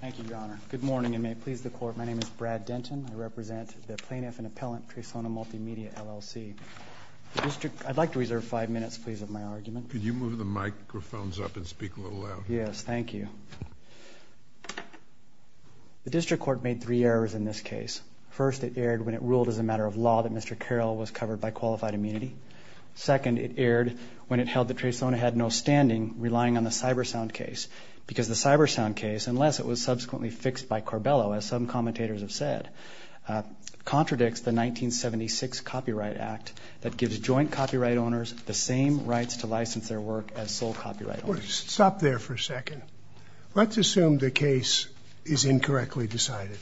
Thank you, Your Honor. Good morning, and may it please the Court, my name is Brad Denton. I represent the Plaintiff and Appellant, Tresona Multimedia, LLC. I'd like to reserve five minutes, please, of my argument. Could you move the microphones up and speak a little louder? Yes, thank you. The District Court made three errors in this case. First, it erred when it ruled as a matter of law that Mr. Carroll was covered by qualified immunity. Second, it erred when it held that Tresona had no standing relying on the Cybersound case because the Cybersound case, unless it was subsequently fixed by Carbello, as some commentators have said, contradicts the 1976 Copyright Act that gives joint copyright owners the same rights to license their work as sole copyright owners. Stop there for a second. Let's assume the case is incorrectly decided.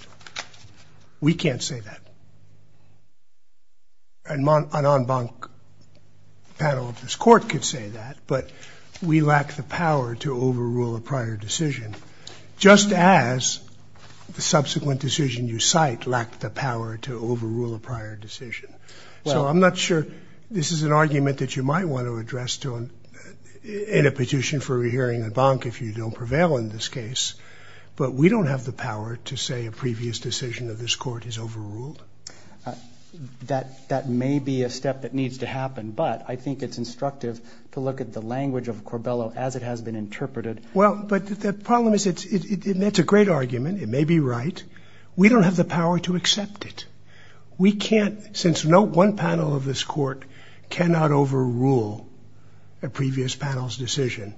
We can't say that. And an en banc panel of this Court could say that, but we lack the power to overrule a prior decision, just as the subsequent decision you cite lacked the power to overrule a prior decision. So I'm not sure this is an argument that you might want to address in a petition for a hearing en banc if you don't prevail in this case, but we don't have the power to say a previous decision of this Court is overruled. That may be a step that needs to happen, but I think it's instructive to look at the language of Carbello as it has been interpreted. Well, but the problem is it's a great argument. It may be right. We don't have the power to accept it. We can't, since no one panel of this Court cannot overrule a previous panel's decision,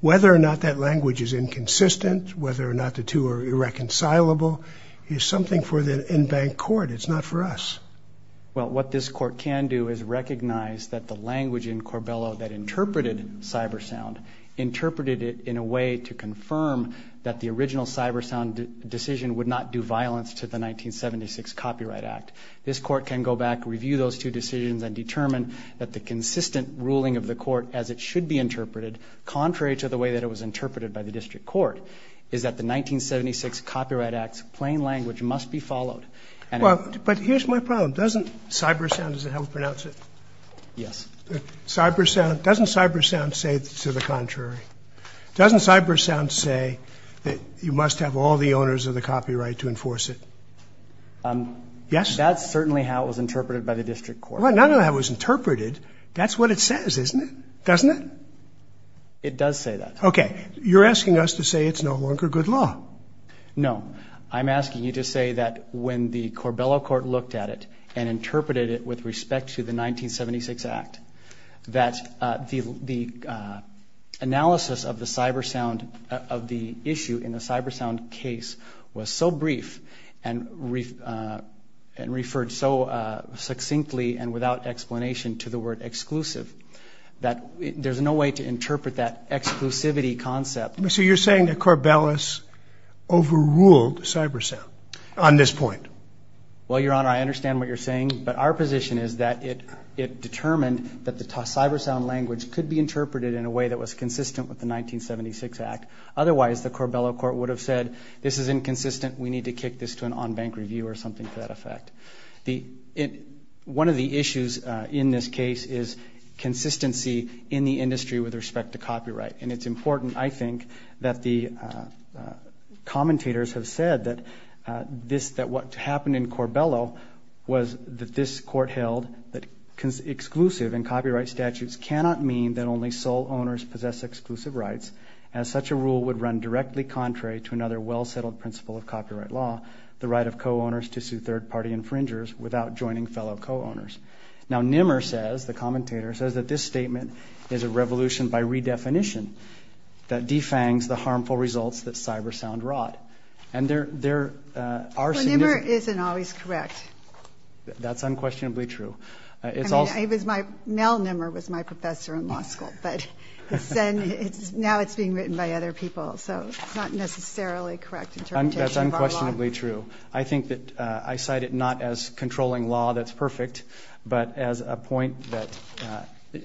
whether or not that language is inconsistent, whether or not the two are irreconcilable is something for the en banc Court. It's not for us. Well, what this Court can do is recognize that the language in Carbello that interpreted CyberSound interpreted it in a way to confirm that the original CyberSound decision would not do violence to the 1976 Copyright Act. This Court can go back, review those two decisions, and determine that the consistent ruling of the Court as it should be interpreted, contrary to the way that it was interpreted by the district court, is that the 1976 Copyright Act's plain language must be followed. Well, but here's my problem. Doesn't CyberSound, is that how we pronounce it? Yes. Doesn't CyberSound say to the contrary? Doesn't CyberSound say that you must have all the owners of the copyright to enforce it? Yes? That's certainly how it was interpreted by the district court. Well, not only how it was interpreted, that's what it says, isn't it? Doesn't it? It does say that. Okay. You're asking us to say it's no longer good law. No. I'm asking you to say that when the Carbello Court looked at it and interpreted it with respect to the 1976 Act, that the analysis of the issue in the CyberSound case was so brief and referred so succinctly and without explanation to the word exclusive that there's no way to interpret that exclusivity concept. So you're saying that Carbello overruled CyberSound on this point? Well, Your Honor, I understand what you're saying, but our position is that it determined that the CyberSound language could be interpreted in a way that was consistent with the 1976 Act. Otherwise, the Carbello Court would have said this is inconsistent, we need to kick this to an on-bank review or something to that effect. One of the issues in this case is consistency in the industry with respect to copyright, and it's important, I think, that the commentators have said that what happened in Carbello was that this Court held that exclusive and copyright statutes cannot mean that only sole owners possess exclusive rights, as such a rule would run directly contrary to another well-settled principle of copyright law, the right of co-owners to sue third-party infringers without joining fellow co-owners. Now, Nimmer says, the commentator says that this statement is a revolution by redefinition that defangs the harmful results that CyberSound wrought. Well, Nimmer isn't always correct. That's unquestionably true. Mel Nimmer was my professor in law school, but now it's being written by other people, so it's not necessarily correct interpretation of our law. That's unquestionably true. I think that I cite it not as controlling law that's perfect, but as a point that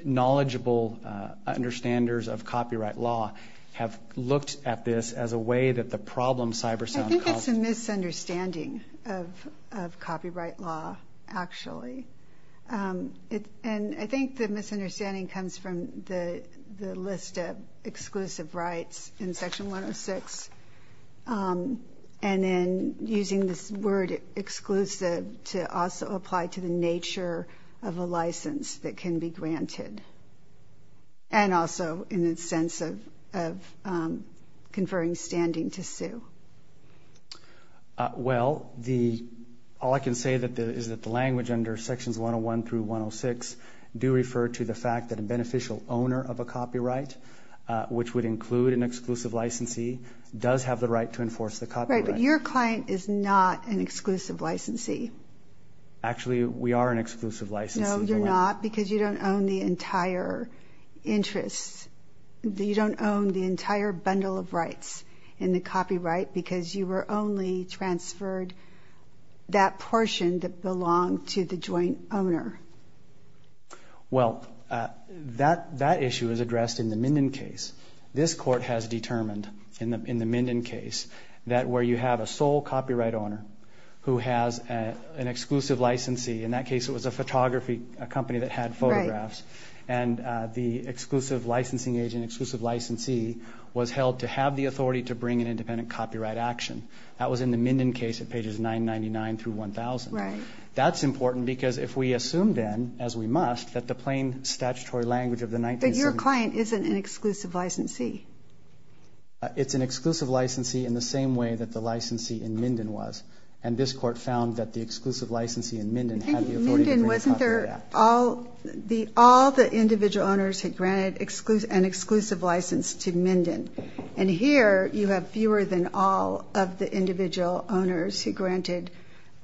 knowledgeable understanders of copyright law have looked at this as a way that the problem CyberSound caused. I think it's a misunderstanding of copyright law, actually. And I think the misunderstanding comes from the list of exclusive rights in Section 106, and then using this word exclusive to also apply to the nature of a license that can be granted, and also in the sense of conferring standing to sue. Well, all I can say is that the language under Sections 101 through 106 do refer to the fact that a beneficial owner of a copyright, which would include an exclusive licensee, does have the right to enforce the copyright. Right, but your client is not an exclusive licensee. Actually, we are an exclusive licensee. No, you're not because you don't own the entire interest. You don't own the entire bundle of rights in the copyright because you were only transferred that portion that belonged to the joint owner. Well, that issue is addressed in the Minden case. This court has determined in the Minden case that where you have a sole copyright owner who has an exclusive licensee, in that case it was a photography company that had photographs, and the exclusive licensing agent, exclusive licensee, was held to have the authority to bring an independent copyright action. That was in the Minden case at pages 999 through 1000. That's important because if we assume then, as we must, that the plain statutory language of the 1970s But your client isn't an exclusive licensee. It's an exclusive licensee in the same way that the licensee in Minden was, and this court found that the exclusive licensee in Minden had the authority to bring a copyright act. All the individual owners had granted an exclusive license to Minden, and here you have fewer than all of the individual owners who granted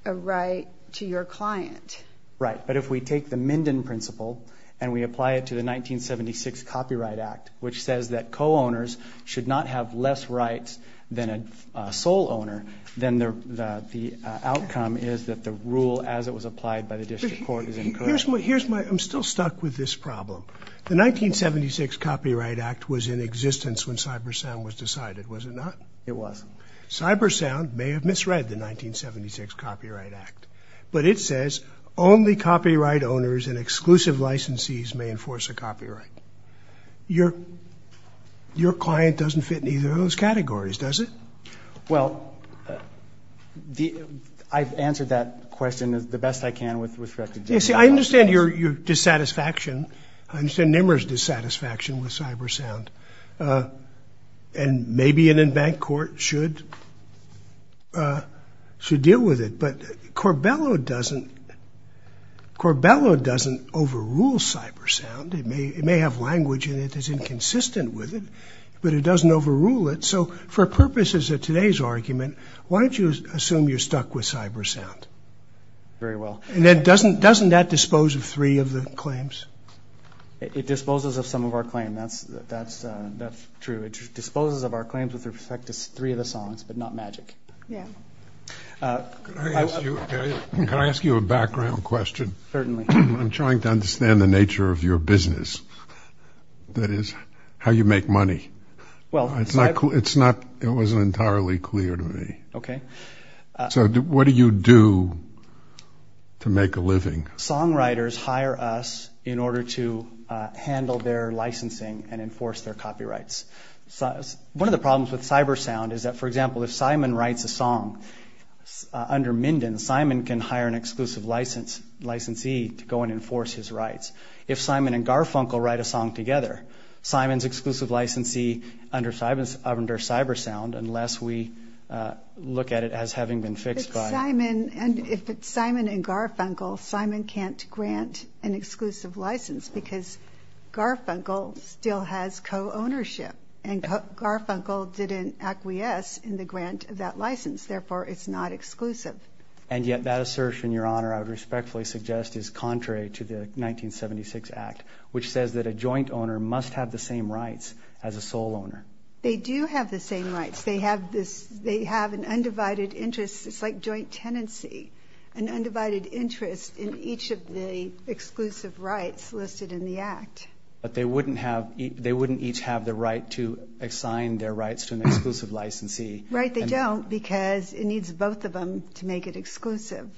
a right to your client. Right, but if we take the Minden principle and we apply it to the 1976 Copyright Act, which says that co-owners should not have less rights than a sole owner, then the outcome is that the rule as it was applied by the district court is incorrect. I'm still stuck with this problem. The 1976 Copyright Act was in existence when CyberSound was decided, was it not? It was. CyberSound may have misread the 1976 Copyright Act, but it says only copyright owners and exclusive licensees may enforce a copyright. Your client doesn't fit in either of those categories, does it? Well, I've answered that question the best I can with record. You see, I understand your dissatisfaction. I understand NIMR's dissatisfaction with CyberSound, and maybe an embanked court should deal with it, but Corbello doesn't overrule CyberSound. It may have language in it that's inconsistent with it, but it doesn't overrule it. So for purposes of today's argument, why don't you assume you're stuck with CyberSound? Very well. And doesn't that dispose of three of the claims? It disposes of some of our claims, that's true. It disposes of our claims with respect to three of the songs, but not Magic. Can I ask you a background question? Certainly. I'm trying to understand the nature of your business, that is, how you make money. It wasn't entirely clear to me. Okay. So what do you do to make a living? Songwriters hire us in order to handle their licensing and enforce their copyrights. One of the problems with CyberSound is that, for example, if Simon writes a song under Minden, Simon can hire an exclusive licensee to go and enforce his rights. If Simon and Garfunkel write a song together, Simon's exclusive licensee under CyberSound, unless we look at it as having been fixed by them. If it's Simon and Garfunkel, Simon can't grant an exclusive license because Garfunkel still has co-ownership, and Garfunkel didn't acquiesce in the grant of that license. Therefore, it's not exclusive. And yet that assertion, Your Honor, I would respectfully suggest is contrary to the 1976 Act, which says that a joint owner must have the same rights as a sole owner. They do have the same rights. They have an undivided interest. It's like joint tenancy, an undivided interest in each of the exclusive rights listed in the Act. But they wouldn't each have the right to assign their rights to an exclusive licensee. Right, they don't because it needs both of them to make it exclusive.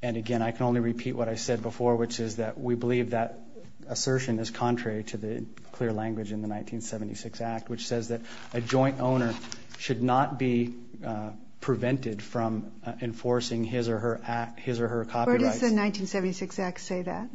And again, I can only repeat what I said before, which is that we believe that assertion is contrary to the clear language in the 1976 Act, which says that a joint owner should not be prevented from enforcing his or her copyrights. Where does the 1976 Act say that?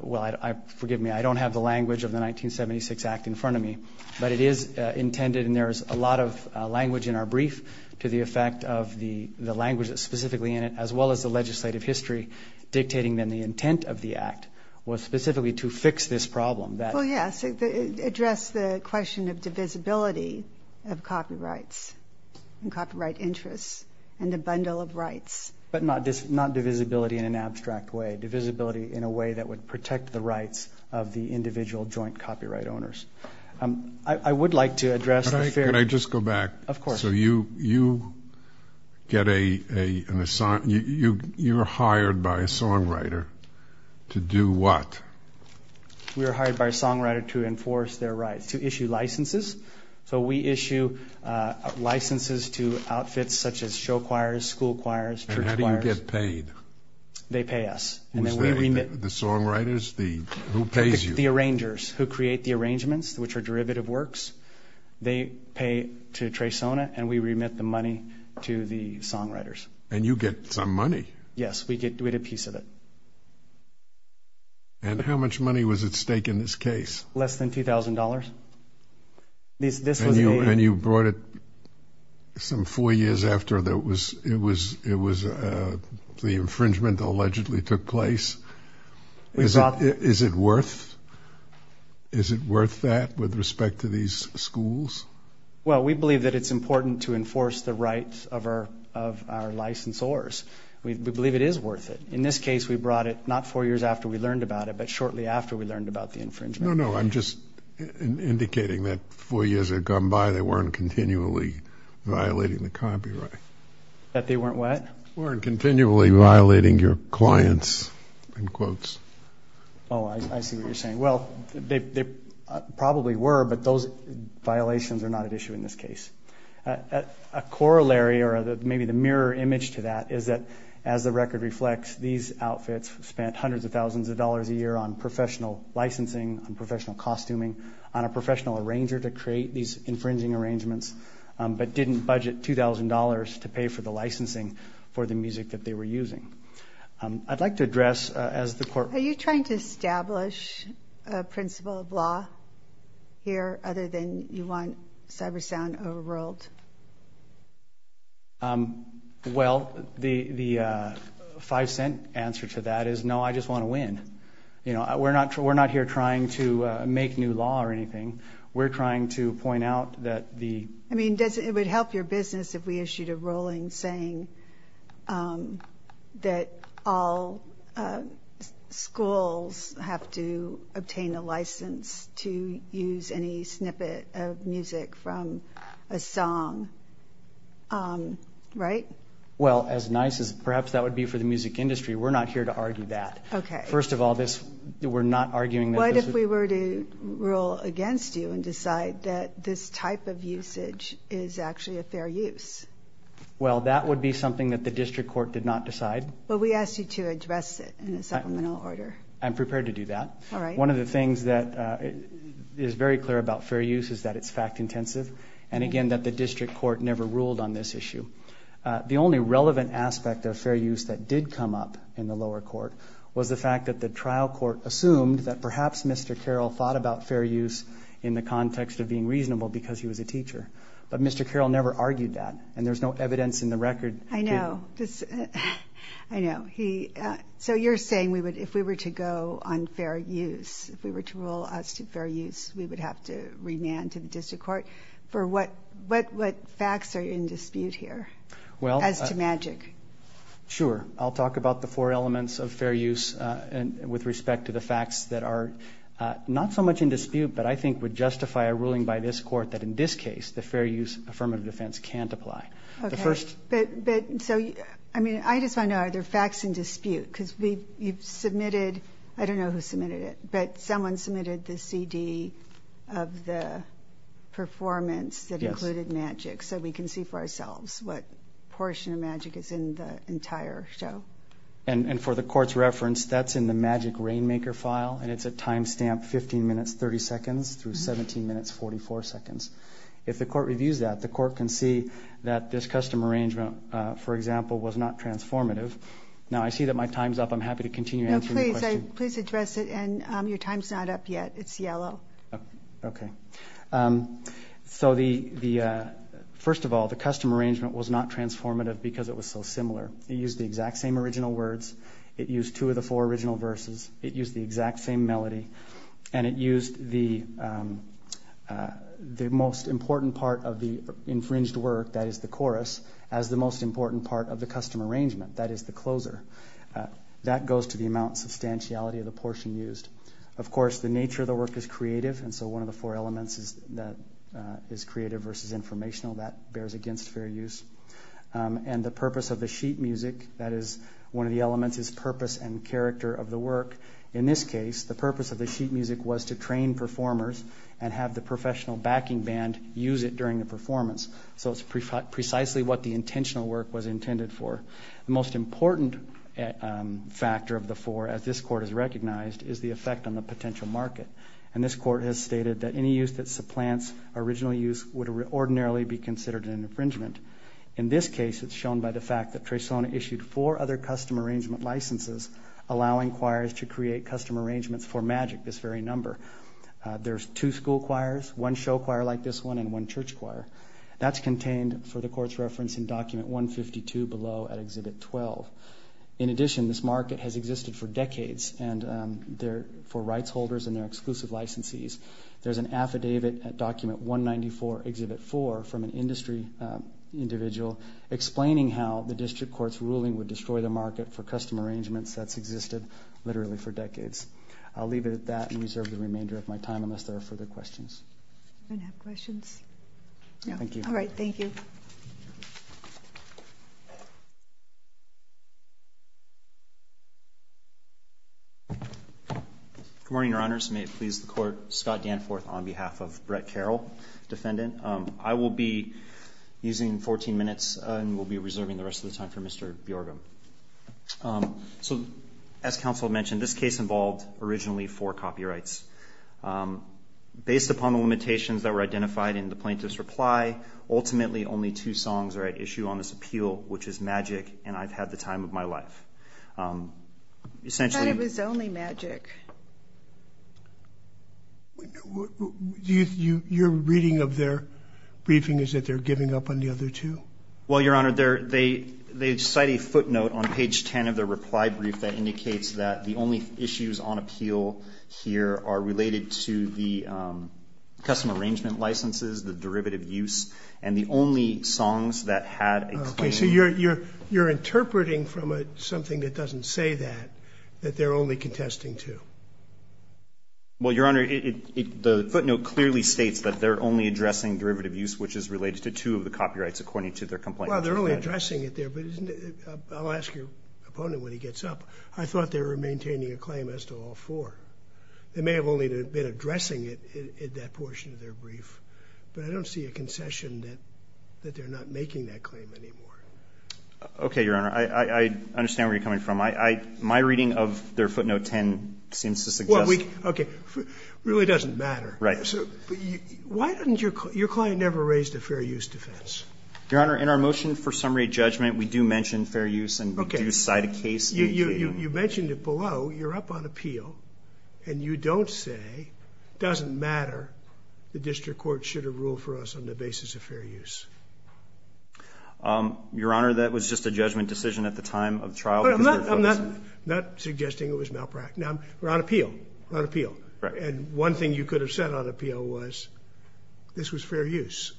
Well, forgive me, I don't have the language of the 1976 Act in front of me. But it is intended, and there is a lot of language in our brief to the effect of the language that's specifically in it, as well as the legislative history dictating then the intent of the Act was specifically to fix this problem. Well, yes, to address the question of divisibility of copyrights and copyright interests and a bundle of rights. But not divisibility in an abstract way, divisibility in a way that would protect the rights of the individual joint copyright owners. I would like to address the fair – Could I just go back? Of course. So you get a – you're hired by a songwriter to do what? We are hired by a songwriter to enforce their rights, to issue licenses. So we issue licenses to outfits such as show choirs, school choirs, church choirs. And how do you get paid? They pay us. Who's the – the songwriters? Who pays you? The arrangers who create the arrangements, which are derivative works. They pay to Traysona, and we remit the money to the songwriters. And you get some money. Yes, we get a piece of it. And how much money was at stake in this case? Less than $2,000. This was a – And you brought it some four years after it was – the infringement allegedly took place. Is it worth that with respect to these schools? Well, we believe that it's important to enforce the rights of our licensors. We believe it is worth it. In this case, we brought it not four years after we learned about it, but shortly after we learned about the infringement. No, no, I'm just indicating that four years had gone by. They weren't continually violating the copyright. That they weren't what? Weren't continually violating your clients, in quotes. Oh, I see what you're saying. Well, they probably were, but those violations are not at issue in this case. A corollary or maybe the mirror image to that is that, as the record reflects, these outfits spent hundreds of thousands of dollars a year on professional licensing, on professional costuming, on a professional arranger to create these infringing arrangements, but didn't budget $2,000 to pay for the licensing for the music that they were using. I'd like to address, as the court – Are you trying to establish a principle of law here, other than you want Cybersound overruled? Well, the five-cent answer to that is, no, I just want to win. We're not here trying to make new law or anything. We're trying to point out that the – I mean, it would help your business if we issued a ruling saying that all schools have to obtain a license to use any snippet of music from a song, right? Well, as nice as – perhaps that would be for the music industry. We're not here to argue that. Okay. First of all, this – we're not arguing that this – is actually a fair use. Well, that would be something that the district court did not decide. But we asked you to address it in a supplemental order. I'm prepared to do that. All right. One of the things that is very clear about fair use is that it's fact-intensive and, again, that the district court never ruled on this issue. The only relevant aspect of fair use that did come up in the lower court was the fact that the trial court assumed that perhaps Mr. Carroll thought about fair use in the context of being reasonable because he was a teacher. But Mr. Carroll never argued that, and there's no evidence in the record. I know. I know. So you're saying if we were to go on fair use, if we were to rule as to fair use, we would have to remand to the district court for what facts are in dispute here as to magic? Sure. I'll talk about the four elements of fair use with respect to the facts that are not so much in dispute, but I think would justify a ruling by this court that, in this case, the fair use affirmative defense can't apply. Okay. So, I mean, I just want to know, are there facts in dispute? Because you've submitted, I don't know who submitted it, but someone submitted the CD of the performance that included magic so we can see for ourselves what portion of magic is in the entire show. And for the court's reference, that's in the magic rainmaker file, and it's a time stamp, 15 minutes, 30 seconds, through 17 minutes, 44 seconds. If the court reviews that, the court can see that this custom arrangement, for example, was not transformative. Now, I see that my time's up. I'm happy to continue answering your question. No, please address it, and your time's not up yet. It's yellow. Okay. So, first of all, the custom arrangement was not transformative because it was so similar. It used the exact same original words. It used two of the four original verses. It used the exact same melody. And it used the most important part of the infringed work, that is the chorus, as the most important part of the custom arrangement, that is the closer. That goes to the amount and substantiality of the portion used. Of course, the nature of the work is creative, and so one of the four elements is creative versus informational. That bears against fair use. And the purpose of the sheet music, that is one of the elements, is purpose and character of the work. In this case, the purpose of the sheet music was to train performers and have the professional backing band use it during the performance. So it's precisely what the intentional work was intended for. The most important factor of the four, as this court has recognized, is the effect on the potential market. And this court has stated that any use that supplants original use would ordinarily be considered an infringement. In this case, it's shown by the fact that Tresona issued four other custom arrangement licenses, allowing choirs to create custom arrangements for Magic, this very number. There's two school choirs, one show choir like this one, and one church choir. That's contained for the court's reference in Document 152 below at Exhibit 12. In addition, this market has existed for decades for rights holders and their exclusive licensees. There's an affidavit at Document 194, Exhibit 4, from an industry individual explaining how the district court's ruling would destroy the market for custom arrangements that's existed literally for decades. I'll leave it at that and reserve the remainder of my time unless there are further questions. Do we have any questions? No. Thank you. All right, thank you. Good morning, Your Honors. May it please the Court. Scott Danforth on behalf of Brett Carroll, defendant. I will be using 14 minutes and will be reserving the rest of the time for Mr. Bjorgum. So as counsel mentioned, this case involved originally four copyrights. Based upon the limitations that were identified in the plaintiff's reply, ultimately only two songs are at issue on this appeal, which is Magic and I've Had the Time of My Life. I thought it was only Magic. Your reading of their briefing is that they're giving up on the other two? Well, Your Honor, they cite a footnote on page 10 of their reply brief that indicates that the only issues on appeal here are related to the custom arrangement licenses, the derivative use, and the only songs that had a claim. So you're interpreting from something that doesn't say that, that they're only contesting two? Well, Your Honor, the footnote clearly states that they're only addressing derivative use, which is related to two of the copyrights according to their complaint. Well, they're only addressing it there, but I'll ask your opponent when he gets up. I thought they were maintaining a claim as to all four. They may have only been addressing it in that portion of their brief, but I don't see a concession that they're not making that claim anymore. Okay, Your Honor, I understand where you're coming from. My reading of their footnote 10 seems to suggest— Okay, it really doesn't matter. Right. Why didn't your client ever raise the fair use defense? Your Honor, in our motion for summary judgment, we do mention fair use and we do cite a case. You mentioned it below. You're up on appeal, and you don't say it doesn't matter. The district court should have ruled for us on the basis of fair use. Your Honor, that was just a judgment decision at the time of trial. I'm not suggesting it was malpractice. We're on appeal. We're on appeal. And one thing you could have said on appeal was this was fair use.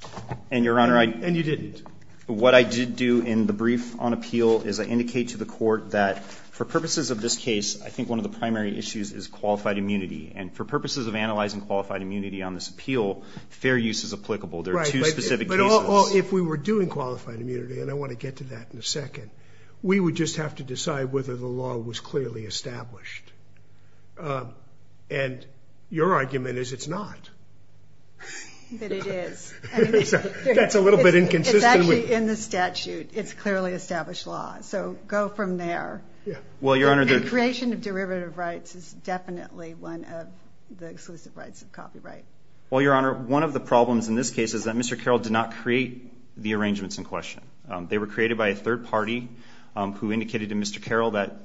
And, Your Honor, I— And you didn't. What I did do in the brief on appeal is I indicate to the court that for purposes of this case, I think one of the primary issues is qualified immunity. And for purposes of analyzing qualified immunity on this appeal, fair use is applicable. There are two specific cases. Right, but if we were doing qualified immunity, and I want to get to that in a second, we would just have to decide whether the law was clearly established. And your argument is it's not. That it is. That's a little bit inconsistent. It's actually in the statute. It's clearly established law. So go from there. Well, Your Honor, the— The creation of derivative rights is definitely one of the exclusive rights of copyright. Well, Your Honor, one of the problems in this case is that Mr. Carroll did not create the arrangements in question. They were created by a third party who indicated to Mr. Carroll that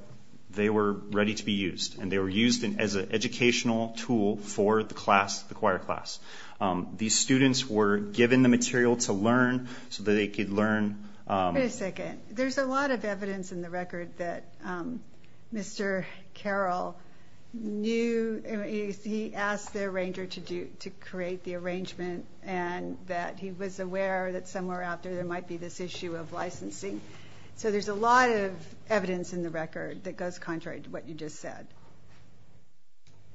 they were ready to be used. And they were used as an educational tool for the class, the choir class. These students were given the material to learn so that they could learn— Wait a second. There's a lot of evidence in the record that Mr. Carroll knew—he asked the arranger to create the arrangement and that he was aware that somewhere out there there might be this issue of licensing. So there's a lot of evidence in the record that goes contrary to what you just said.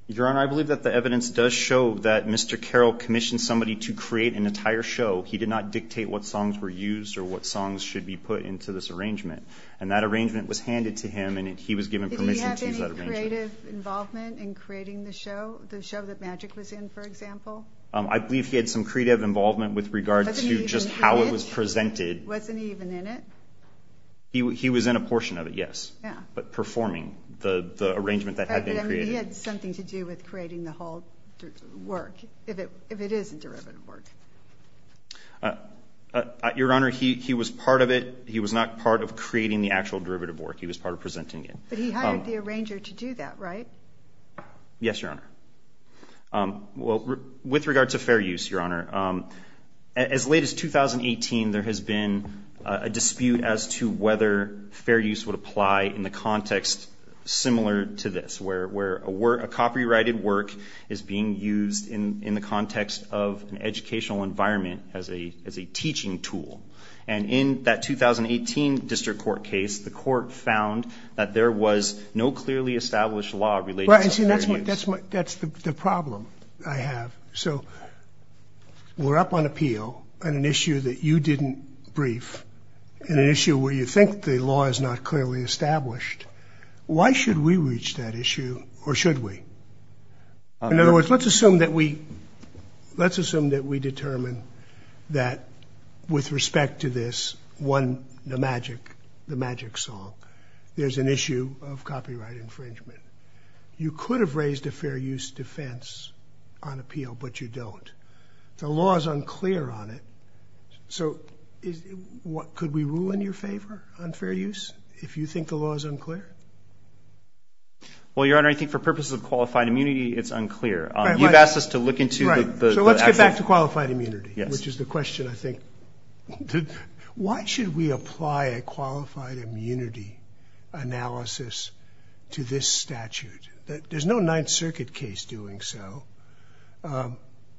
Your Honor, I believe that the evidence does show that Mr. Carroll commissioned somebody to create an entire show. He did not dictate what songs were used or what songs should be put into this arrangement. And that arrangement was handed to him, and he was given permission to use that arrangement. Did he have any creative involvement in creating the show, the show that Magic was in, for example? I believe he had some creative involvement with regard to just how it was presented. Wasn't he even in it? He was in a portion of it, yes, but performing the arrangement that had been created. But he had something to do with creating the whole work, if it is a derivative work. Your Honor, he was part of it. He was not part of creating the actual derivative work. He was part of presenting it. But he hired the arranger to do that, right? Yes, Your Honor. Well, with regard to fair use, Your Honor, as late as 2018, there has been a dispute as to whether fair use would apply in the context similar to this, where a copyrighted work is being used in the context of an educational environment as a teaching tool. And in that 2018 district court case, the court found that there was no clearly established law related to fair use. That's the problem I have. So we're up on appeal on an issue that you didn't brief, an issue where you think the law is not clearly established. Why should we reach that issue, or should we? In other words, let's assume that we determine that with respect to this one, the Magic song, there's an issue of copyright infringement. You could have raised a fair use defense on appeal, but you don't. The law is unclear on it. So could we rule in your favor on fair use if you think the law is unclear? Well, Your Honor, I think for purposes of qualified immunity, it's unclear. You've asked us to look into the actual – So let's get back to qualified immunity, which is the question, I think. Why should we apply a qualified immunity analysis to this statute? There's no Ninth Circuit case doing so.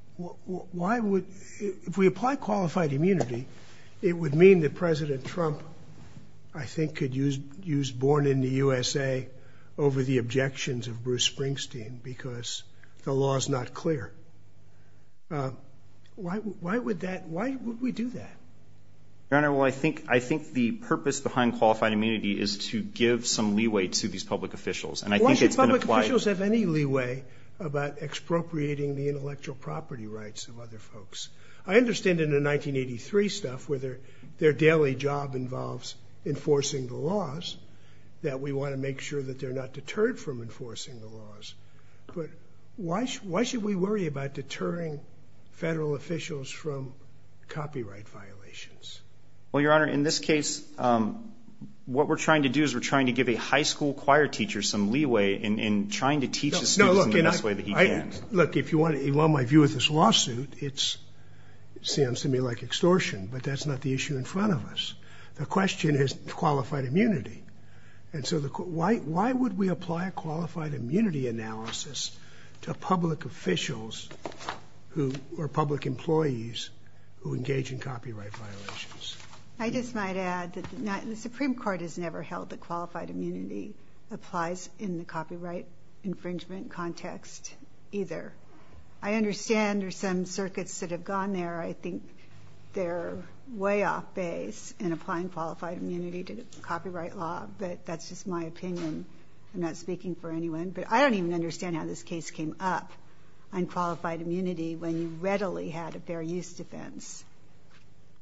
Why would – if we apply qualified immunity, it would mean that President Trump, I think, could use born in the USA over the objections of Bruce Springsteen because the law is not clear. Why would that – why would we do that? Your Honor, well, I think the purpose behind qualified immunity is to give some leeway to these public officials. And I think it's been applied – Why should public officials have any leeway about expropriating the intellectual property rights of other folks? I understand in the 1983 stuff, where their daily job involves enforcing the laws, that we want to make sure that they're not deterred from enforcing the laws. But why should we worry about deterring federal officials from copyright violations? Well, Your Honor, in this case, what we're trying to do is we're trying to give a high school choir teacher some leeway in trying to teach his students in the best way that he can. Look, if you want my view of this lawsuit, it sounds to me like extortion, but that's not the issue in front of us. The question is qualified immunity. And so why would we apply a qualified immunity analysis to public officials or public employees who engage in copyright violations? I just might add that the Supreme Court has never held that qualified immunity applies in the copyright infringement context either. I understand there are some circuits that have gone there. I think they're way off base in applying qualified immunity to the copyright law. But that's just my opinion. I'm not speaking for anyone. But I don't even understand how this case came up on qualified immunity when you readily had a fair use defense.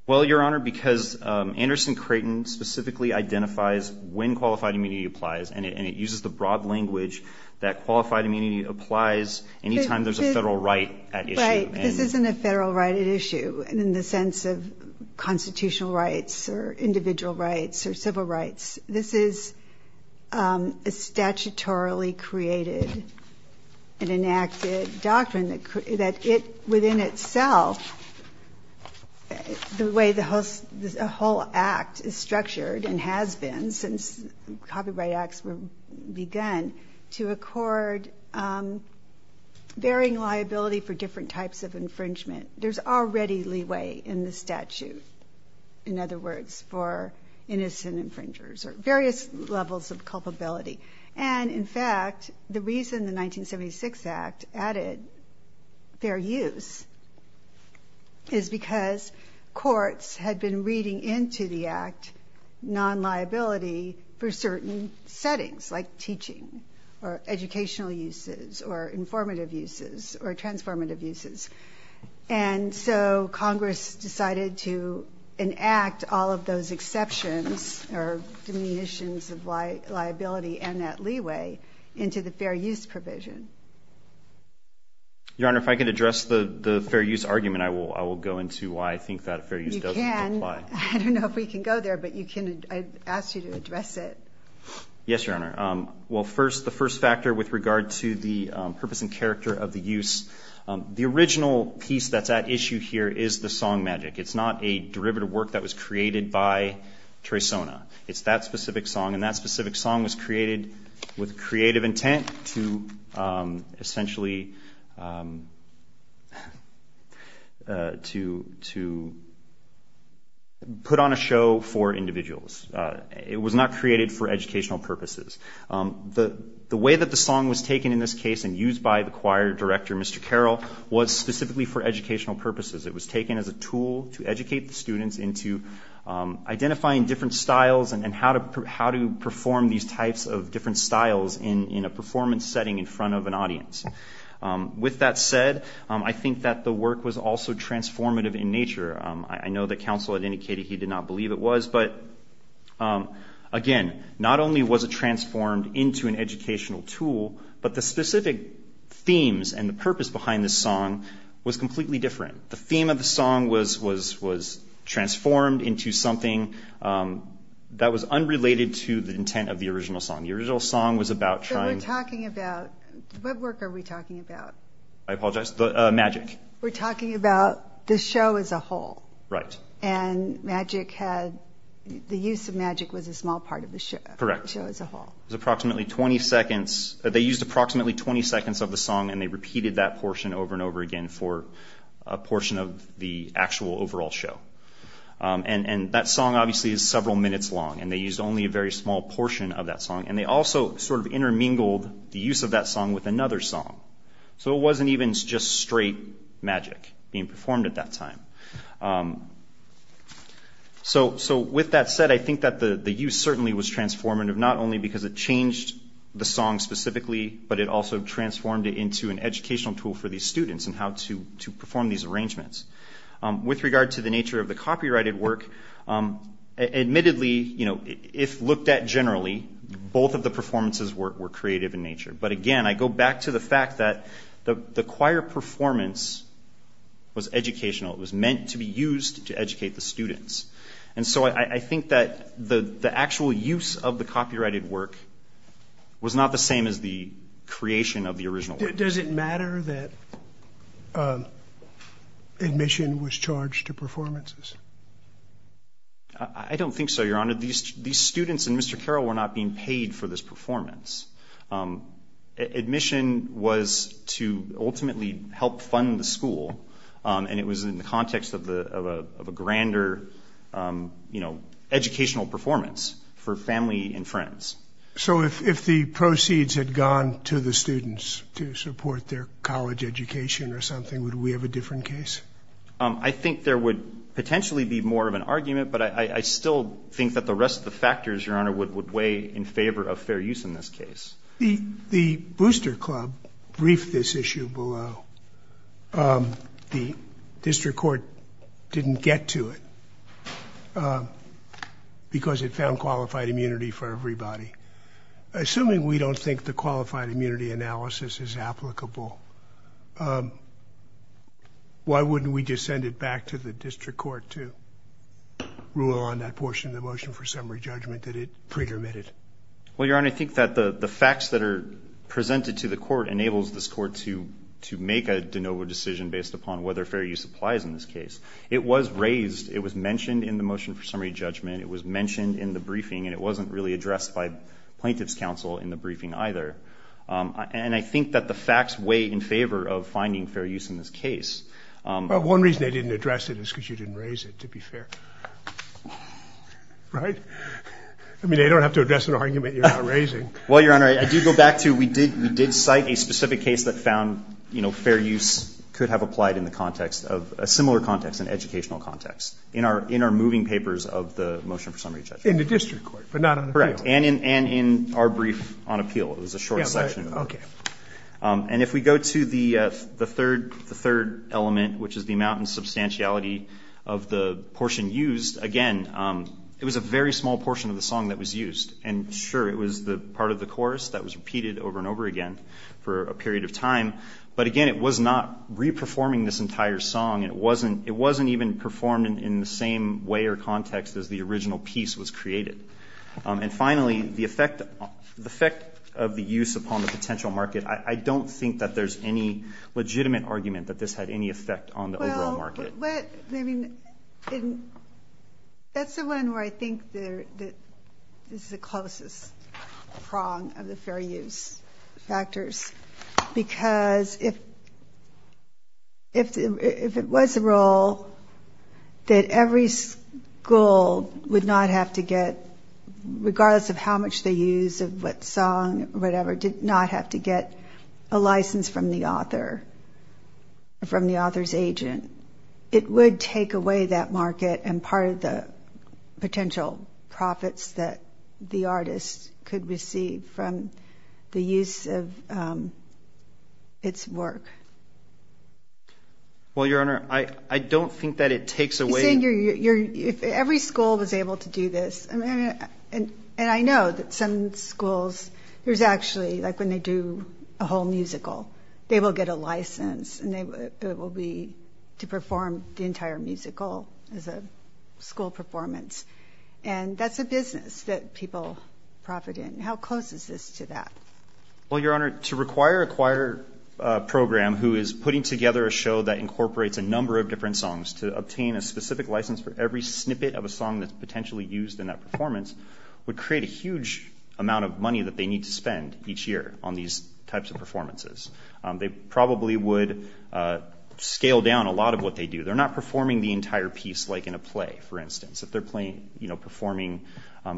Well, Your Honor, because Anderson Creighton specifically identifies when qualified immunity applies, and it uses the broad language that qualified immunity applies any time there's a federal right at issue. Right. This isn't a federal right at issue in the sense of constitutional rights or individual rights or civil rights. This is a statutorily created and enacted doctrine that within itself, the way the whole act is structured and has been since copyright acts began, to accord varying liability for different types of infringement. There's already leeway in the statute, in other words, for innocent infringers or various levels of culpability. And, in fact, the reason the 1976 act added fair use is because courts had been reading into the act non-liability for certain settings, like teaching or educational uses or informative uses or transformative uses. And so Congress decided to enact all of those exceptions or diminutions of liability and that leeway into the fair use provision. Your Honor, if I could address the fair use argument, I will go into why I think that fair use doesn't apply. I don't know if we can go there, but I'd ask you to address it. Yes, Your Honor. Well, the first factor with regard to the purpose and character of the use, the original piece that's at issue here is the song magic. It's not a derivative work that was created by Traysona. It's that specific song. And that specific song was created with creative intent to essentially put on a show for individuals. It was not created for educational purposes. The way that the song was taken in this case and used by the choir director, Mr. Carroll, was specifically for educational purposes. It was taken as a tool to educate the students into identifying different styles and how to perform these types of different styles in a performance setting in front of an audience. With that said, I think that the work was also transformative in nature. I know that counsel had indicated he did not believe it was. But, again, not only was it transformed into an educational tool, but the specific themes and the purpose behind the song was completely different. The theme of the song was transformed into something that was unrelated to the intent of the original song. The original song was about trying to- So we're talking about, what work are we talking about? I apologize. Magic. We're talking about the show as a whole. Right. And magic had, the use of magic was a small part of the show. Correct. The show as a whole. It was approximately 20 seconds. They used approximately 20 seconds of the song, and they repeated that portion over and over again for a portion of the actual overall show. And that song, obviously, is several minutes long, and they used only a very small portion of that song. And they also sort of intermingled the use of that song with another song. So it wasn't even just straight magic being performed at that time. So with that said, I think that the use certainly was transformative, not only because it changed the song specifically, but it also transformed it into an educational tool for these students and how to perform these arrangements. With regard to the nature of the copyrighted work, admittedly, if looked at generally, both of the performances were creative in nature. But, again, I go back to the fact that the choir performance was educational. It was meant to be used to educate the students. And so I think that the actual use of the copyrighted work was not the same as the creation of the original work. Does it matter that admission was charged to performances? I don't think so, Your Honor. These students and Mr. Carroll were not being paid for this performance. Admission was to ultimately help fund the school, and it was in the context of a grander educational performance for family and friends. So if the proceeds had gone to the students to support their college education or something, would we have a different case? I think there would potentially be more of an argument, but I still think that the rest of the factors, Your Honor, would weigh in favor of fair use in this case. The Booster Club briefed this issue below. The district court didn't get to it because it found qualified immunity for everybody. Assuming we don't think the qualified immunity analysis is applicable, why wouldn't we just send it back to the district court to rule on that portion of the motion for summary judgment that it pre-permitted? Well, Your Honor, I think that the facts that are presented to the court enables this court to make a de novo decision based upon whether fair use applies in this case. It was raised. It was mentioned in the motion for summary judgment. It was mentioned in the briefing, and it wasn't really addressed by plaintiff's counsel in the briefing either. And I think that the facts weigh in favor of finding fair use in this case. Well, one reason they didn't address it is because you didn't raise it, to be fair. Right? I mean, they don't have to address an argument you're not raising. Well, Your Honor, I do go back to we did cite a specific case that found fair use could have applied in a similar context, an educational context, in our moving papers of the motion for summary judgment. In the district court, but not on appeal. Correct, and in our brief on appeal. It was a short section. Okay. And if we go to the third element, which is the amount and substantiality of the portion used, again, it was a very small portion of the song that was used. And, sure, it was part of the chorus that was repeated over and over again for a period of time. But, again, it was not re-performing this entire song. It wasn't even performed in the same way or context as the original piece was created. And, finally, the effect of the use upon the potential market, I don't think that there's any legitimate argument that this had any effect on the overall market. Well, but, I mean, that's the one where I think this is the closest prong of the fair use factors. Because if it was the role that every school would not have to get, regardless of how much they used of what song or whatever, did not have to get a license from the author, from the author's agent, it would take away that market and part of the potential profits that the artist could receive from the use of its work. Well, Your Honor, I don't think that it takes away... You see, if every school was able to do this, and I know that some schools, there's actually, like when they do a whole musical, they will get a license and it will be to perform the entire musical as a school performance. And that's a business that people profit in. How close is this to that? Well, Your Honor, to require a choir program who is putting together a show that incorporates a number of different songs to obtain a specific license for every snippet of a song that's potentially used in that performance would create a huge amount of money that they need to spend each year on these types of performances. They probably would scale down a lot of what they do. They're not performing the entire piece like in a play, for instance. If they're performing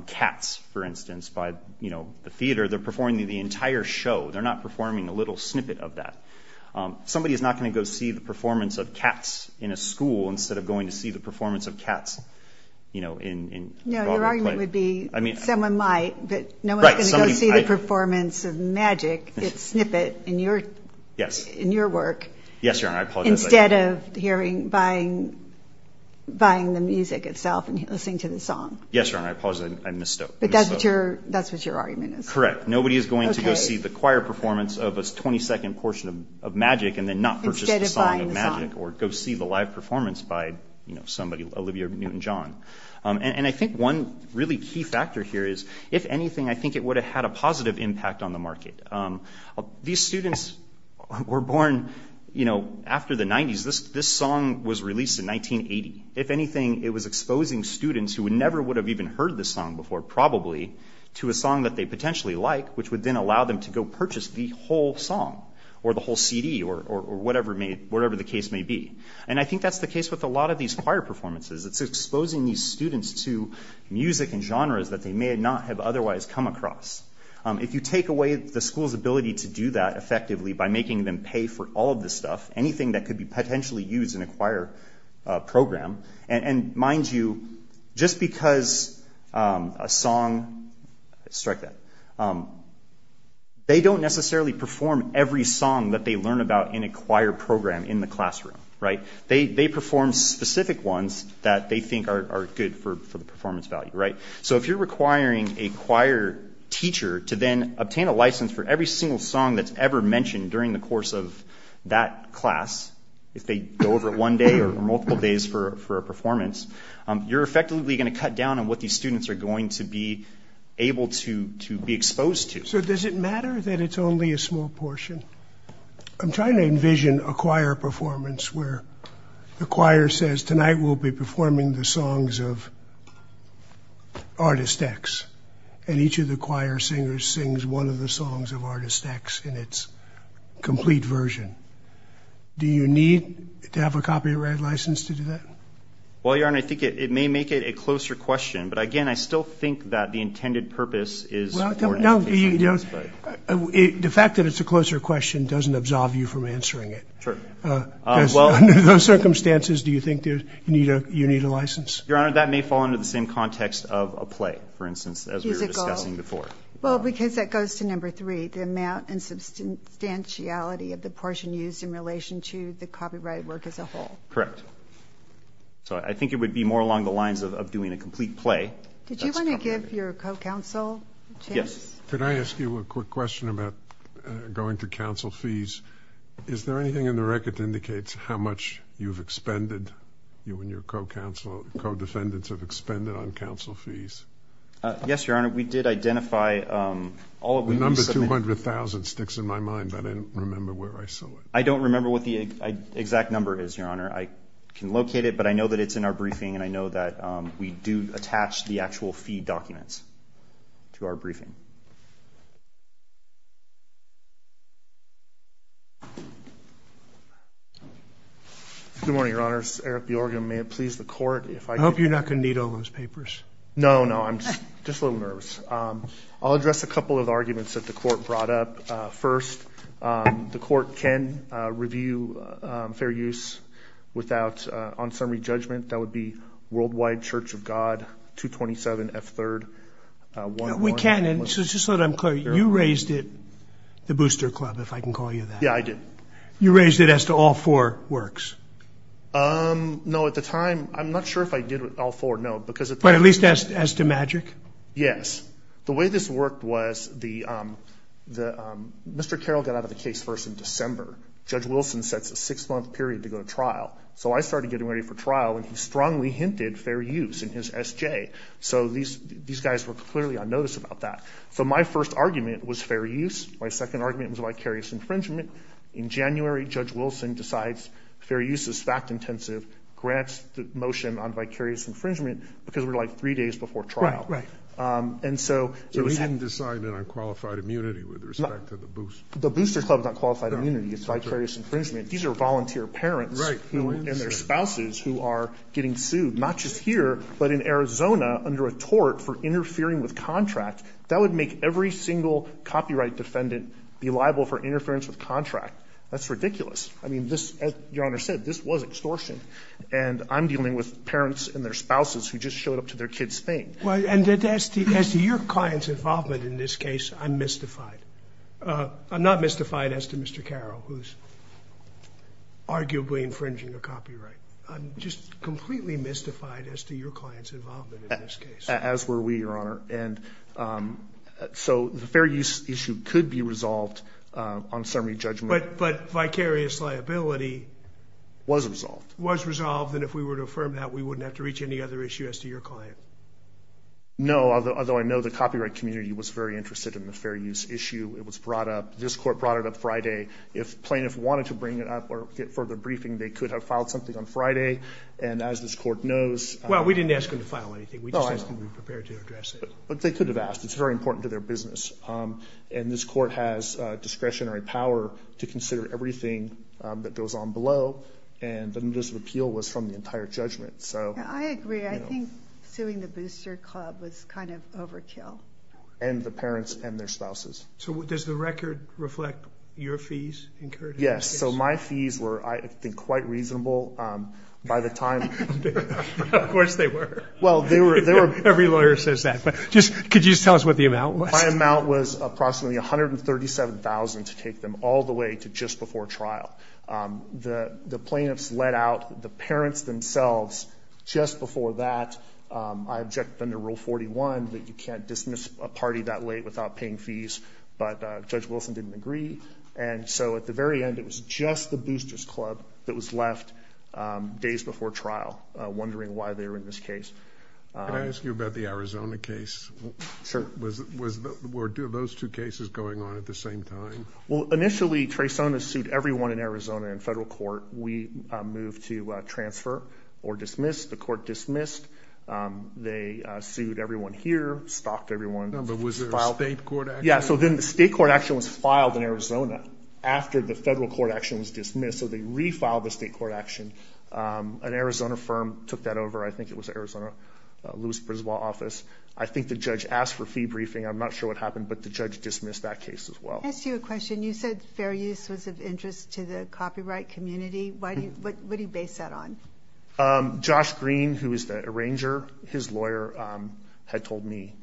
Cats, for instance, by the theater, they're performing the entire show. They're not performing a little snippet of that. Somebody is not going to go see the performance of Cats in a school instead of going to see the performance of Cats in Broadway play. No, your argument would be someone might, but no one's going to go see the performance of Magic, its snippet in your work, instead of buying the music itself and listening to the song. Yes, Your Honor, I apologize. I misstook. But that's what your argument is. Correct. Nobody is going to go see the choir performance of a 20-second portion of Magic and then not purchase the song of Magic or go see the live performance by Olivia Newton-John. And I think one really key factor here is, if anything, I think it would have had a positive impact on the market. These students were born after the 90s. This song was released in 1980. If anything, it was exposing students who never would have even heard this song before, probably, to a song that they potentially like, which would then allow them to go purchase the whole song or the whole CD or whatever the case may be. And I think that's the case with a lot of these choir performances. It's exposing these students to music and genres that they may not have otherwise come across. If you take away the school's ability to do that effectively by making them pay for all of this stuff, anything that could be potentially used in a choir program, and mind you, just because a song, strike that, they don't necessarily perform every song that they learn about in a choir program in the classroom. They perform specific ones that they think are good for the performance value. So if you're requiring a choir teacher to then obtain a license for every single song that's ever mentioned during the course of that class, if they go over it one day or multiple days for a performance, you're effectively going to cut down on what these students are going to be able to be exposed to. So does it matter that it's only a small portion? I'm trying to envision a choir performance where the choir says, tonight we'll be performing the songs of Artist X, and each of the choir singers sings one of the songs of Artist X in its complete version. Do you need to have a copyright license to do that? Well, Your Honor, I think it may make it a closer question, but again, I still think that the intended purpose is for this case. The fact that it's a closer question doesn't absolve you from answering it. Under those circumstances, do you think you need a license? Your Honor, that may fall under the same context of a play, for instance, as we were discussing before. Well, because that goes to number three, the amount and substantiality of the portion used in relation to the copyrighted work as a whole. Correct. So I think it would be more along the lines of doing a complete play. Did you want to give your co-counsel a chance? Could I ask you a quick question about going to counsel fees? Is there anything in the record that indicates how much you've expended, you and your co-counsel, co-defendants have expended on counsel fees? Yes, Your Honor. We did identify all of them. The number 200,000 sticks in my mind, but I don't remember where I saw it. I don't remember what the exact number is, Your Honor. I can locate it, but I know that it's in our briefing, and I know that we do attach the actual fee documents to our briefing. Good morning, Your Honors. Eric Bjorgen, may it please the Court if I could. I hope you're not going to need all those papers. No, no, I'm just a little nervous. I'll address a couple of arguments that the Court brought up. First, the Court can review fair use without on-summary judgment. That would be Worldwide Church of God, 227F3rd. We can, and just so that I'm clear, you raised it, the Booster Club, if I can call you that. Yeah, I did. You raised it as to all four works. No, at the time, I'm not sure if I did all four, no. But at least as to magic? Yes. The way this worked was Mr. Carroll got out of the case first in December. Judge Wilson sets a six-month period to go to trial. So I started getting ready for trial, and he strongly hinted fair use in his SJ. So these guys were clearly on notice about that. So my first argument was fair use. My second argument was vicarious infringement. In January, Judge Wilson decides fair use is fact-intensive, grants the motion on vicarious infringement, because we're like three days before trial. Right, right. So he didn't decide it on qualified immunity with respect to the Booster Club? The Booster Club is not qualified immunity. It's vicarious infringement. These are volunteer parents. Right. And their spouses who are getting sued, not just here, but in Arizona under a tort for interfering with contract. That would make every single copyright defendant be liable for interference with contract. That's ridiculous. I mean, this, as Your Honor said, this was extortion. And I'm dealing with parents and their spouses who just showed up to their kid's thing. Well, and as to your client's involvement in this case, I'm mystified. I'm not mystified as to Mr. Carroll, who's arguably infringing a copyright. I'm just completely mystified as to your client's involvement in this case. As were we, Your Honor. And so the fair use issue could be resolved on summary judgment. But vicarious liability was resolved. Was resolved. And if we were to affirm that, we wouldn't have to reach any other issue as to your client. No, although I know the copyright community was very interested in the fair use issue. It was brought up. This court brought it up Friday. If plaintiffs wanted to bring it up or get further briefing, they could have filed something on Friday. And as this court knows. Well, we didn't ask them to file anything. We just asked them to be prepared to address it. But they could have asked. It's very important to their business. And this court has discretionary power to consider everything that goes on below. And the notice of appeal was from the entire judgment. I agree. I think suing the Booster Club was kind of overkill. And the parents and their spouses. So does the record reflect your fees incurred in this case? Yes. So my fees were, I think, quite reasonable by the time. Of course they were. Well, they were. Every lawyer says that. But could you just tell us what the amount was? My amount was approximately $137,000 to take them all the way to just before trial. The plaintiffs let out the parents themselves just before that. I objected under Rule 41 that you can't dismiss a party that late without paying fees. But Judge Wilson didn't agree. And so at the very end, it was just the Boosters Club that was left days before trial, wondering why they were in this case. Can I ask you about the Arizona case? Sure. Were those two cases going on at the same time? Well, initially, Traysona sued everyone in Arizona in federal court. We moved to transfer or dismiss. The court dismissed. They sued everyone here, stalked everyone. But was there a state court action? Yeah. So then the state court action was filed in Arizona after the federal court action was dismissed. So they refiled the state court action. An Arizona firm took that over. I think it was the Arizona Lewis-Brisbois office. I think the judge asked for fee briefing. I'm not sure what happened, but the judge dismissed that case as well. Can I ask you a question? You said fair use was of interest to the copyright community. What do you base that on? Josh Green, who is the arranger, his lawyer, had told me,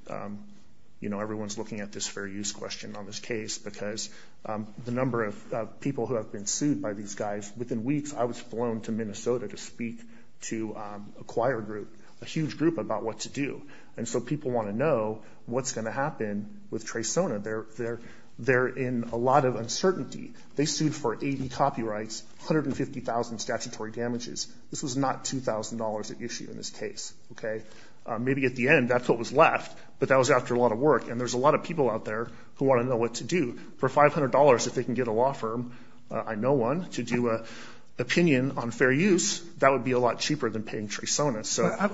you know, everyone's looking at this fair use question on this case because the number of people who have been sued by these guys, within weeks I was flown to Minnesota to speak to a choir group, a huge group about what to do. And so people want to know what's going to happen with Traysona. They're in a lot of uncertainty. They sued for 80 copyrights, 150,000 statutory damages. This was not $2,000 at issue in this case, okay? Maybe at the end that's what was left, but that was after a lot of work, and there's a lot of people out there who want to know what to do. For $500, if they can get a law firm, I know one, to do an opinion on fair use, that would be a lot cheaper than paying Traysona.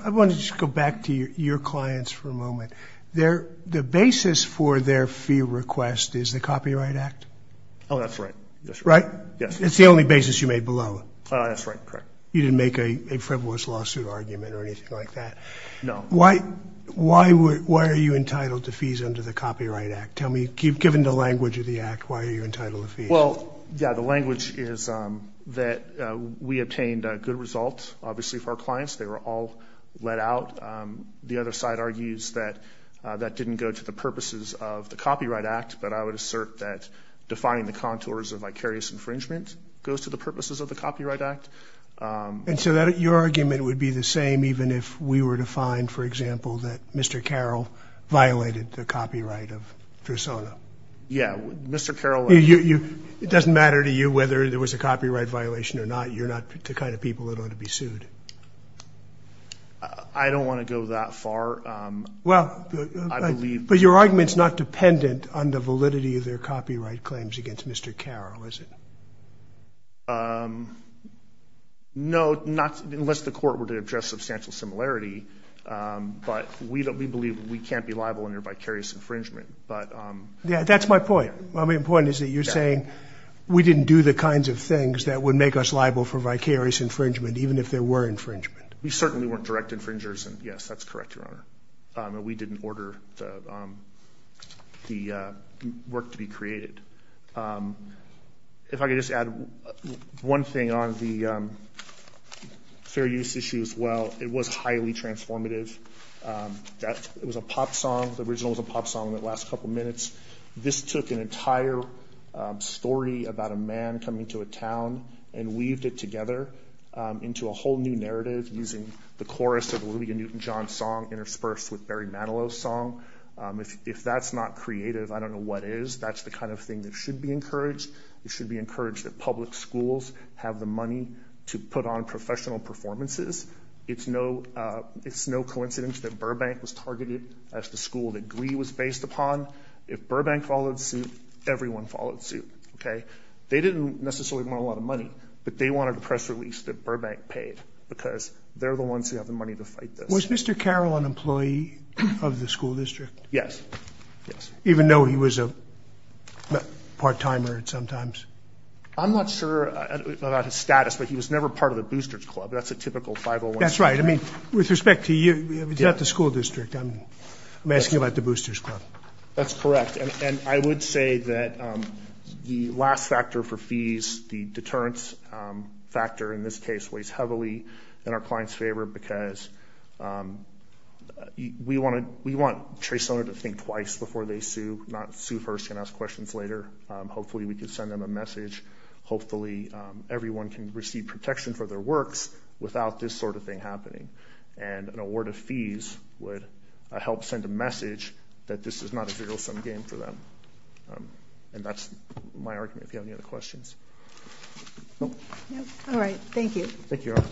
I want to just go back to your clients for a moment. The basis for their fee request is the Copyright Act? Oh, that's right. Right? Yes. It's the only basis you made below? That's right, correct. You didn't make a frivolous lawsuit argument or anything like that? No. Why are you entitled to fees under the Copyright Act? Tell me, given the language of the Act, why are you entitled to fees? Well, yeah, the language is that we obtained good results, obviously, for our clients. They were all let out. The other side argues that that didn't go to the purposes of the Copyright Act, but I would assert that defining the contours of vicarious infringement goes to the purposes of the Copyright Act. And so your argument would be the same even if we were to find, for example, that Mr. Carroll violated the copyright of Traysona? Yeah. Mr. Carroll. It doesn't matter to you whether there was a copyright violation or not. You're not the kind of people that ought to be sued. I don't want to go that far. Well, but your argument's not dependent on the validity of their copyright claims against Mr. Carroll, is it? No, unless the court were to address substantial similarity. But we believe we can't be liable under vicarious infringement. Yeah, that's my point. My point is that you're saying we didn't do the kinds of things that would make us liable for vicarious infringement even if there were infringement. We certainly weren't direct infringers, and, yes, that's correct, Your Honor. We didn't order the work to be created. If I could just add one thing on the fair use issue as well. It was highly transformative. It was a pop song. The original was a pop song that lasts a couple minutes. This took an entire story about a man coming to a town and weaved it together into a whole new narrative using the chorus of a Louis and Newton John song interspersed with Barry Manilow's song. If that's not creative, I don't know what is. That's the kind of thing that should be encouraged. It should be encouraged that public schools have the money to put on professional performances. It's no coincidence that Burbank was targeted as the school that Glee was based upon. If Burbank followed suit, everyone followed suit. They didn't necessarily want a lot of money, but they wanted a press release that Burbank paid because they're the ones who have the money to fight this. Was Mr. Carroll an employee of the school district? Yes. Even though he was a part-timer sometimes? I'm not sure about his status, but he was never part of the Boosters Club. That's a typical 501c3. That's right. With respect to you, it's not the school district. I'm asking about the Boosters Club. That's correct, and I would say that the last factor for fees, the deterrence factor in this case, weighs heavily in our clients' favor because we want a trace owner to think twice before they sue, not sue first and ask questions later. Hopefully we can send them a message. Hopefully everyone can receive protection for their works without this sort of thing happening, and an award of fees would help send a message that this is not a zero-sum game for them. That's my argument, if you have any other questions. All right. Thank you. Thank you, Your Honor.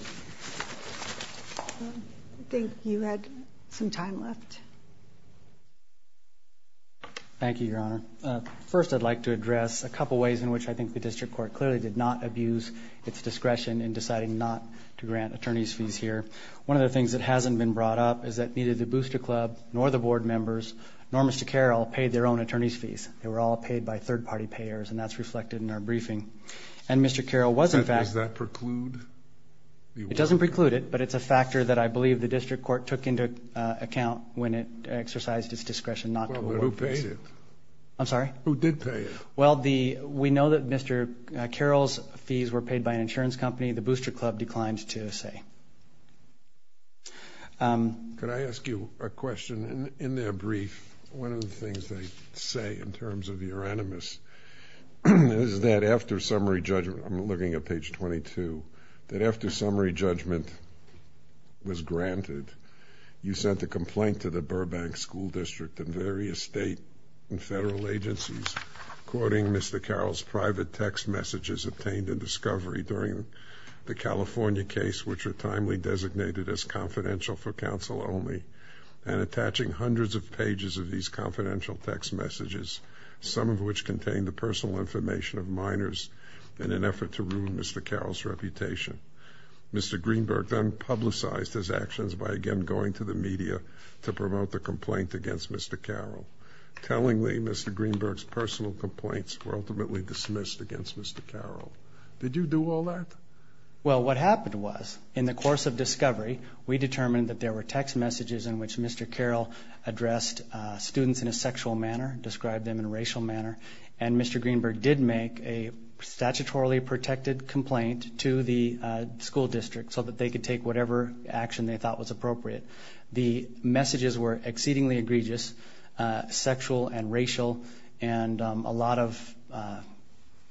I think you had some time left. Thank you, Your Honor. First I'd like to address a couple ways in which I think the district court clearly did not abuse its discretion in deciding not to grant attorneys' fees here. One of the things that hasn't been brought up is that neither the Boosters Club nor the board members, nor Mr. Carroll, paid their own attorneys' fees. They were all paid by third-party payers, and that's reflected in our briefing. And Mr. Carroll was, in fact. Does that preclude the award? It doesn't preclude it, but it's a factor that I believe the district court took into account when it exercised its discretion not to award fees. Who did pay it? I'm sorry? Who did pay it? Well, we know that Mr. Carroll's fees were paid by an insurance company. The Boosters Club declined to say. Could I ask you a question? In their brief, one of the things they say, in terms of your animus, is that after summary judgment, I'm looking at page 22, that after summary judgment was granted, you sent a complaint to the Burbank School District and various state and federal agencies, quoting Mr. Carroll's private text messages obtained in discovery during the California case, which were timely designated as confidential for counsel only, and attaching hundreds of pages of these confidential text messages, some of which contained the personal information of minors in an effort to ruin Mr. Carroll's reputation. Mr. Greenberg then publicized his actions by, again, going to the media to promote the complaint against Mr. Carroll. Tellingly, Mr. Greenberg's personal complaints were ultimately dismissed against Mr. Carroll. Did you do all that? Well, what happened was, in the course of discovery, we determined that there were text messages in which Mr. Carroll addressed students in a sexual manner, described them in a racial manner, and Mr. Greenberg did make a statutorily protected complaint to the school district so that they could take whatever action they thought was appropriate. The messages were exceedingly egregious, sexual and racial, and a lot of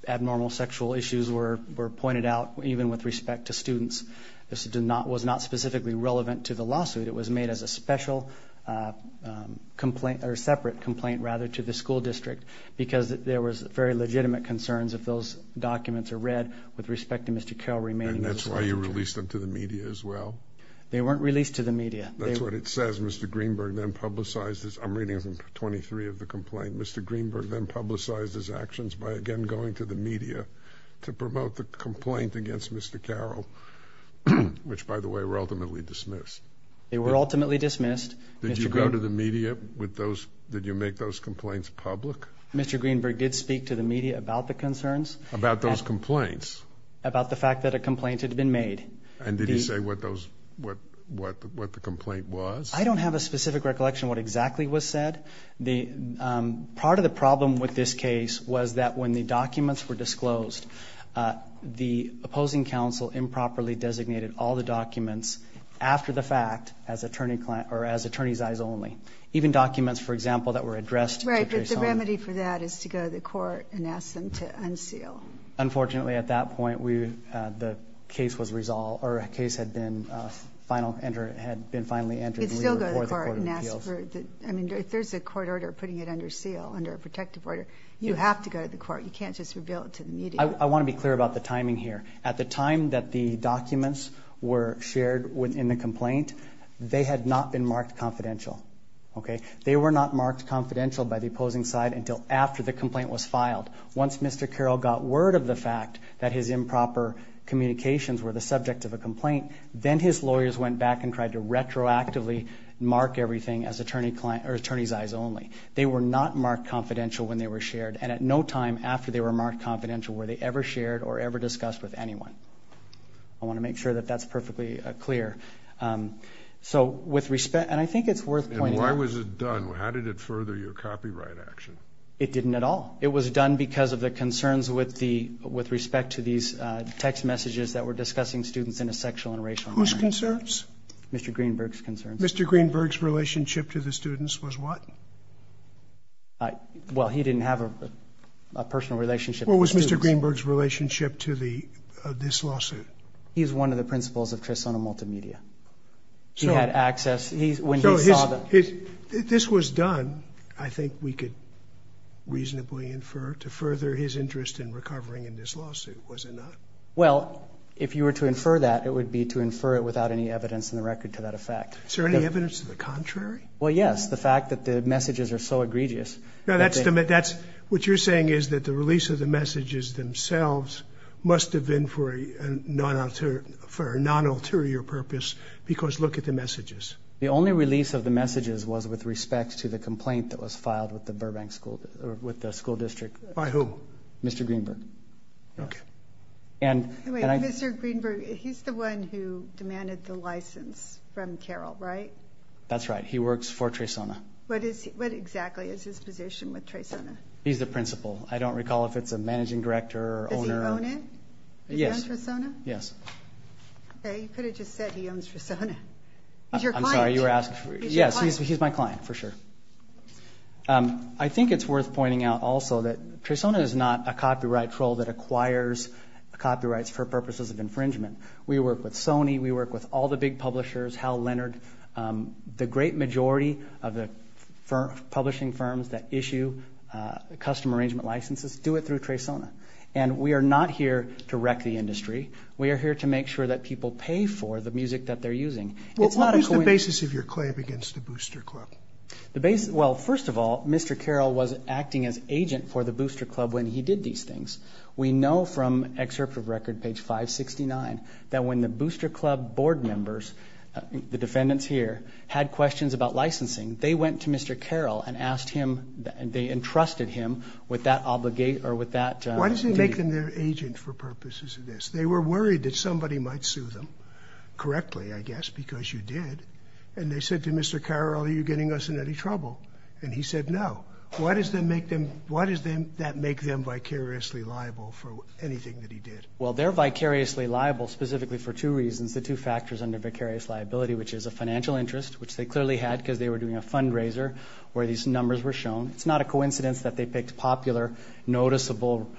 abnormal sexual issues were pointed out, even with respect to students. This was not specifically relevant to the lawsuit. It was made as a separate complaint to the school district because there was very legitimate concerns if those documents are read with respect to Mr. Carroll remaining. And that's why you released them to the media as well? They weren't released to the media. That's what it says. Mr. Greenberg then publicized his actions. I'm reading from 23 of the complaint. Mr. Greenberg then publicized his actions by, again, going to the media to promote the complaint against Mr. Carroll, which, by the way, were ultimately dismissed. They were ultimately dismissed. Did you go to the media? Did you make those complaints public? Mr. Greenberg did speak to the media about the concerns. About those complaints? About the fact that a complaint had been made. And did he say what the complaint was? I don't have a specific recollection of what exactly was said. Part of the problem with this case was that when the documents were disclosed, the opposing counsel improperly designated all the documents after the fact as attorney's eyes only, even documents, for example, that were addressed. Right, but the remedy for that is to go to the court and ask them to unseal. Unfortunately, at that point, the case was resolved or the case had been finally entered. You'd still go to the court and ask for it. I mean, if there's a court order putting it under seal, under a protective order, you have to go to the court. You can't just reveal it to the media. I want to be clear about the timing here. At the time that the documents were shared within the complaint, they had not been marked confidential. They were not marked confidential by the opposing side until after the complaint was filed. Once Mr. Carroll got word of the fact that his improper communications were the subject of a complaint, then his lawyers went back and tried to retroactively mark everything as attorney's eyes only. They were not marked confidential when they were shared, and at no time after they were marked confidential were they ever shared or ever discussed with anyone. I want to make sure that that's perfectly clear. And I think it's worth pointing out. And why was it done? How did it further your copyright action? It didn't at all. It was done because of the concerns with respect to these text messages that were discussing students in a sexual and racial environment. Whose concerns? Mr. Greenberg's concerns. Mr. Greenberg's relationship to the students was what? Well, he didn't have a personal relationship to the students. What was Mr. Greenberg's relationship to this lawsuit? He was one of the principals of Trisono Multimedia. He had access when he saw the. So this was done, I think we could reasonably infer, to further his interest in recovering in this lawsuit, was it not? Well, if you were to infer that, it would be to infer it without any evidence in the record to that effect. Is there any evidence to the contrary? Well, yes, the fact that the messages are so egregious. Now, that's what you're saying is that the release of the messages themselves must have been for a non-ulterior purpose because look at the messages. The only release of the messages was with respect to the complaint that was filed with the school district. By whom? Mr. Greenberg. Okay. Wait, Mr. Greenberg, he's the one who demanded the license from Carroll, right? That's right. He works for Trisono. What exactly is his position with Trisono? He's the principal. I don't recall if it's a managing director or owner. Does he own it? Does he own Trisono? Yes. Okay, you could have just said he owns Trisono. He's your client. I'm sorry, you were asking? He's your client. Yes, he's my client for sure. I think it's worth pointing out also that Trisono is not a copyright troll that acquires copyrights for purposes of infringement. We work with Sony. We work with all the big publishers, Hal Leonard. The great majority of the publishing firms that issue custom arrangement licenses do it through Trisono. And we are not here to wreck the industry. We are here to make sure that people pay for the music that they're using. What is the basis of your claim against the Booster Club? Well, first of all, Mr. Carroll was acting as agent for the Booster Club when he did these things. We know from excerpt of record, page 569, that when the Booster Club board members, the defendants here, had questions about licensing, they went to Mr. Carroll and they entrusted him with that duty. Why does it make them their agent for purposes of this? They were worried that somebody might sue them correctly, I guess, because you did. And they said to Mr. Carroll, are you getting us in any trouble? And he said no. Why does that make them vicariously liable for anything that he did? Well, they're vicariously liable specifically for two reasons, the two factors under vicarious liability, which is a financial interest, which they clearly had because they were doing a fundraiser where these numbers were shown. It's not a coincidence that they picked popular, noticeable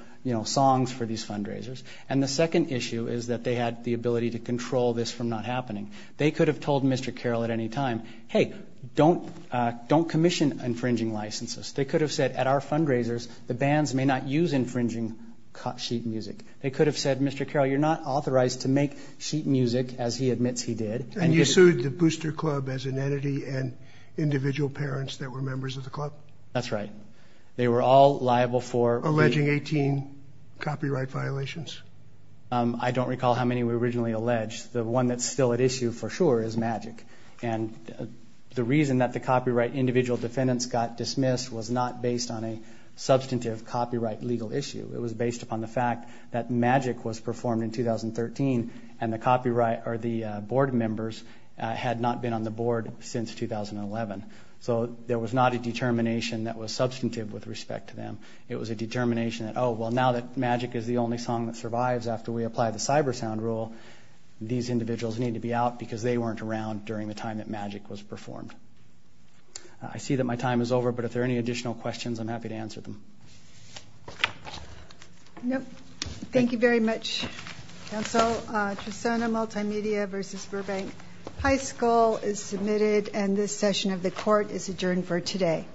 songs for these fundraisers. And the second issue is that they had the ability to control this from not happening. They could have told Mr. Carroll at any time, hey, don't commission infringing licenses. They could have said, at our fundraisers, the bands may not use infringing sheet music. They could have said, Mr. Carroll, you're not authorized to make sheet music, as he admits he did. And you sued the Booster Club as an entity and individual parents that were members of the club? That's right. They were all liable for alleging 18 copyright violations. I don't recall how many were originally alleged. The one that's still at issue for sure is Magic. And the reason that the copyright individual defendants got dismissed was not based on a substantive copyright legal issue. It was based upon the fact that Magic was performed in 2013, and the board members had not been on the board since 2011. So there was not a determination that was substantive with respect to them. It was a determination that, oh, well, now that Magic is the only song that survives after we apply the cyber sound rule, these individuals need to be out because they weren't around during the time that Magic was performed. I see that my time is over, but if there are any additional questions, I'm happy to answer them. Thank you very much, Counsel. Tristana Multimedia v. Burbank High School is submitted, and this session of the court is adjourned for today. All rise.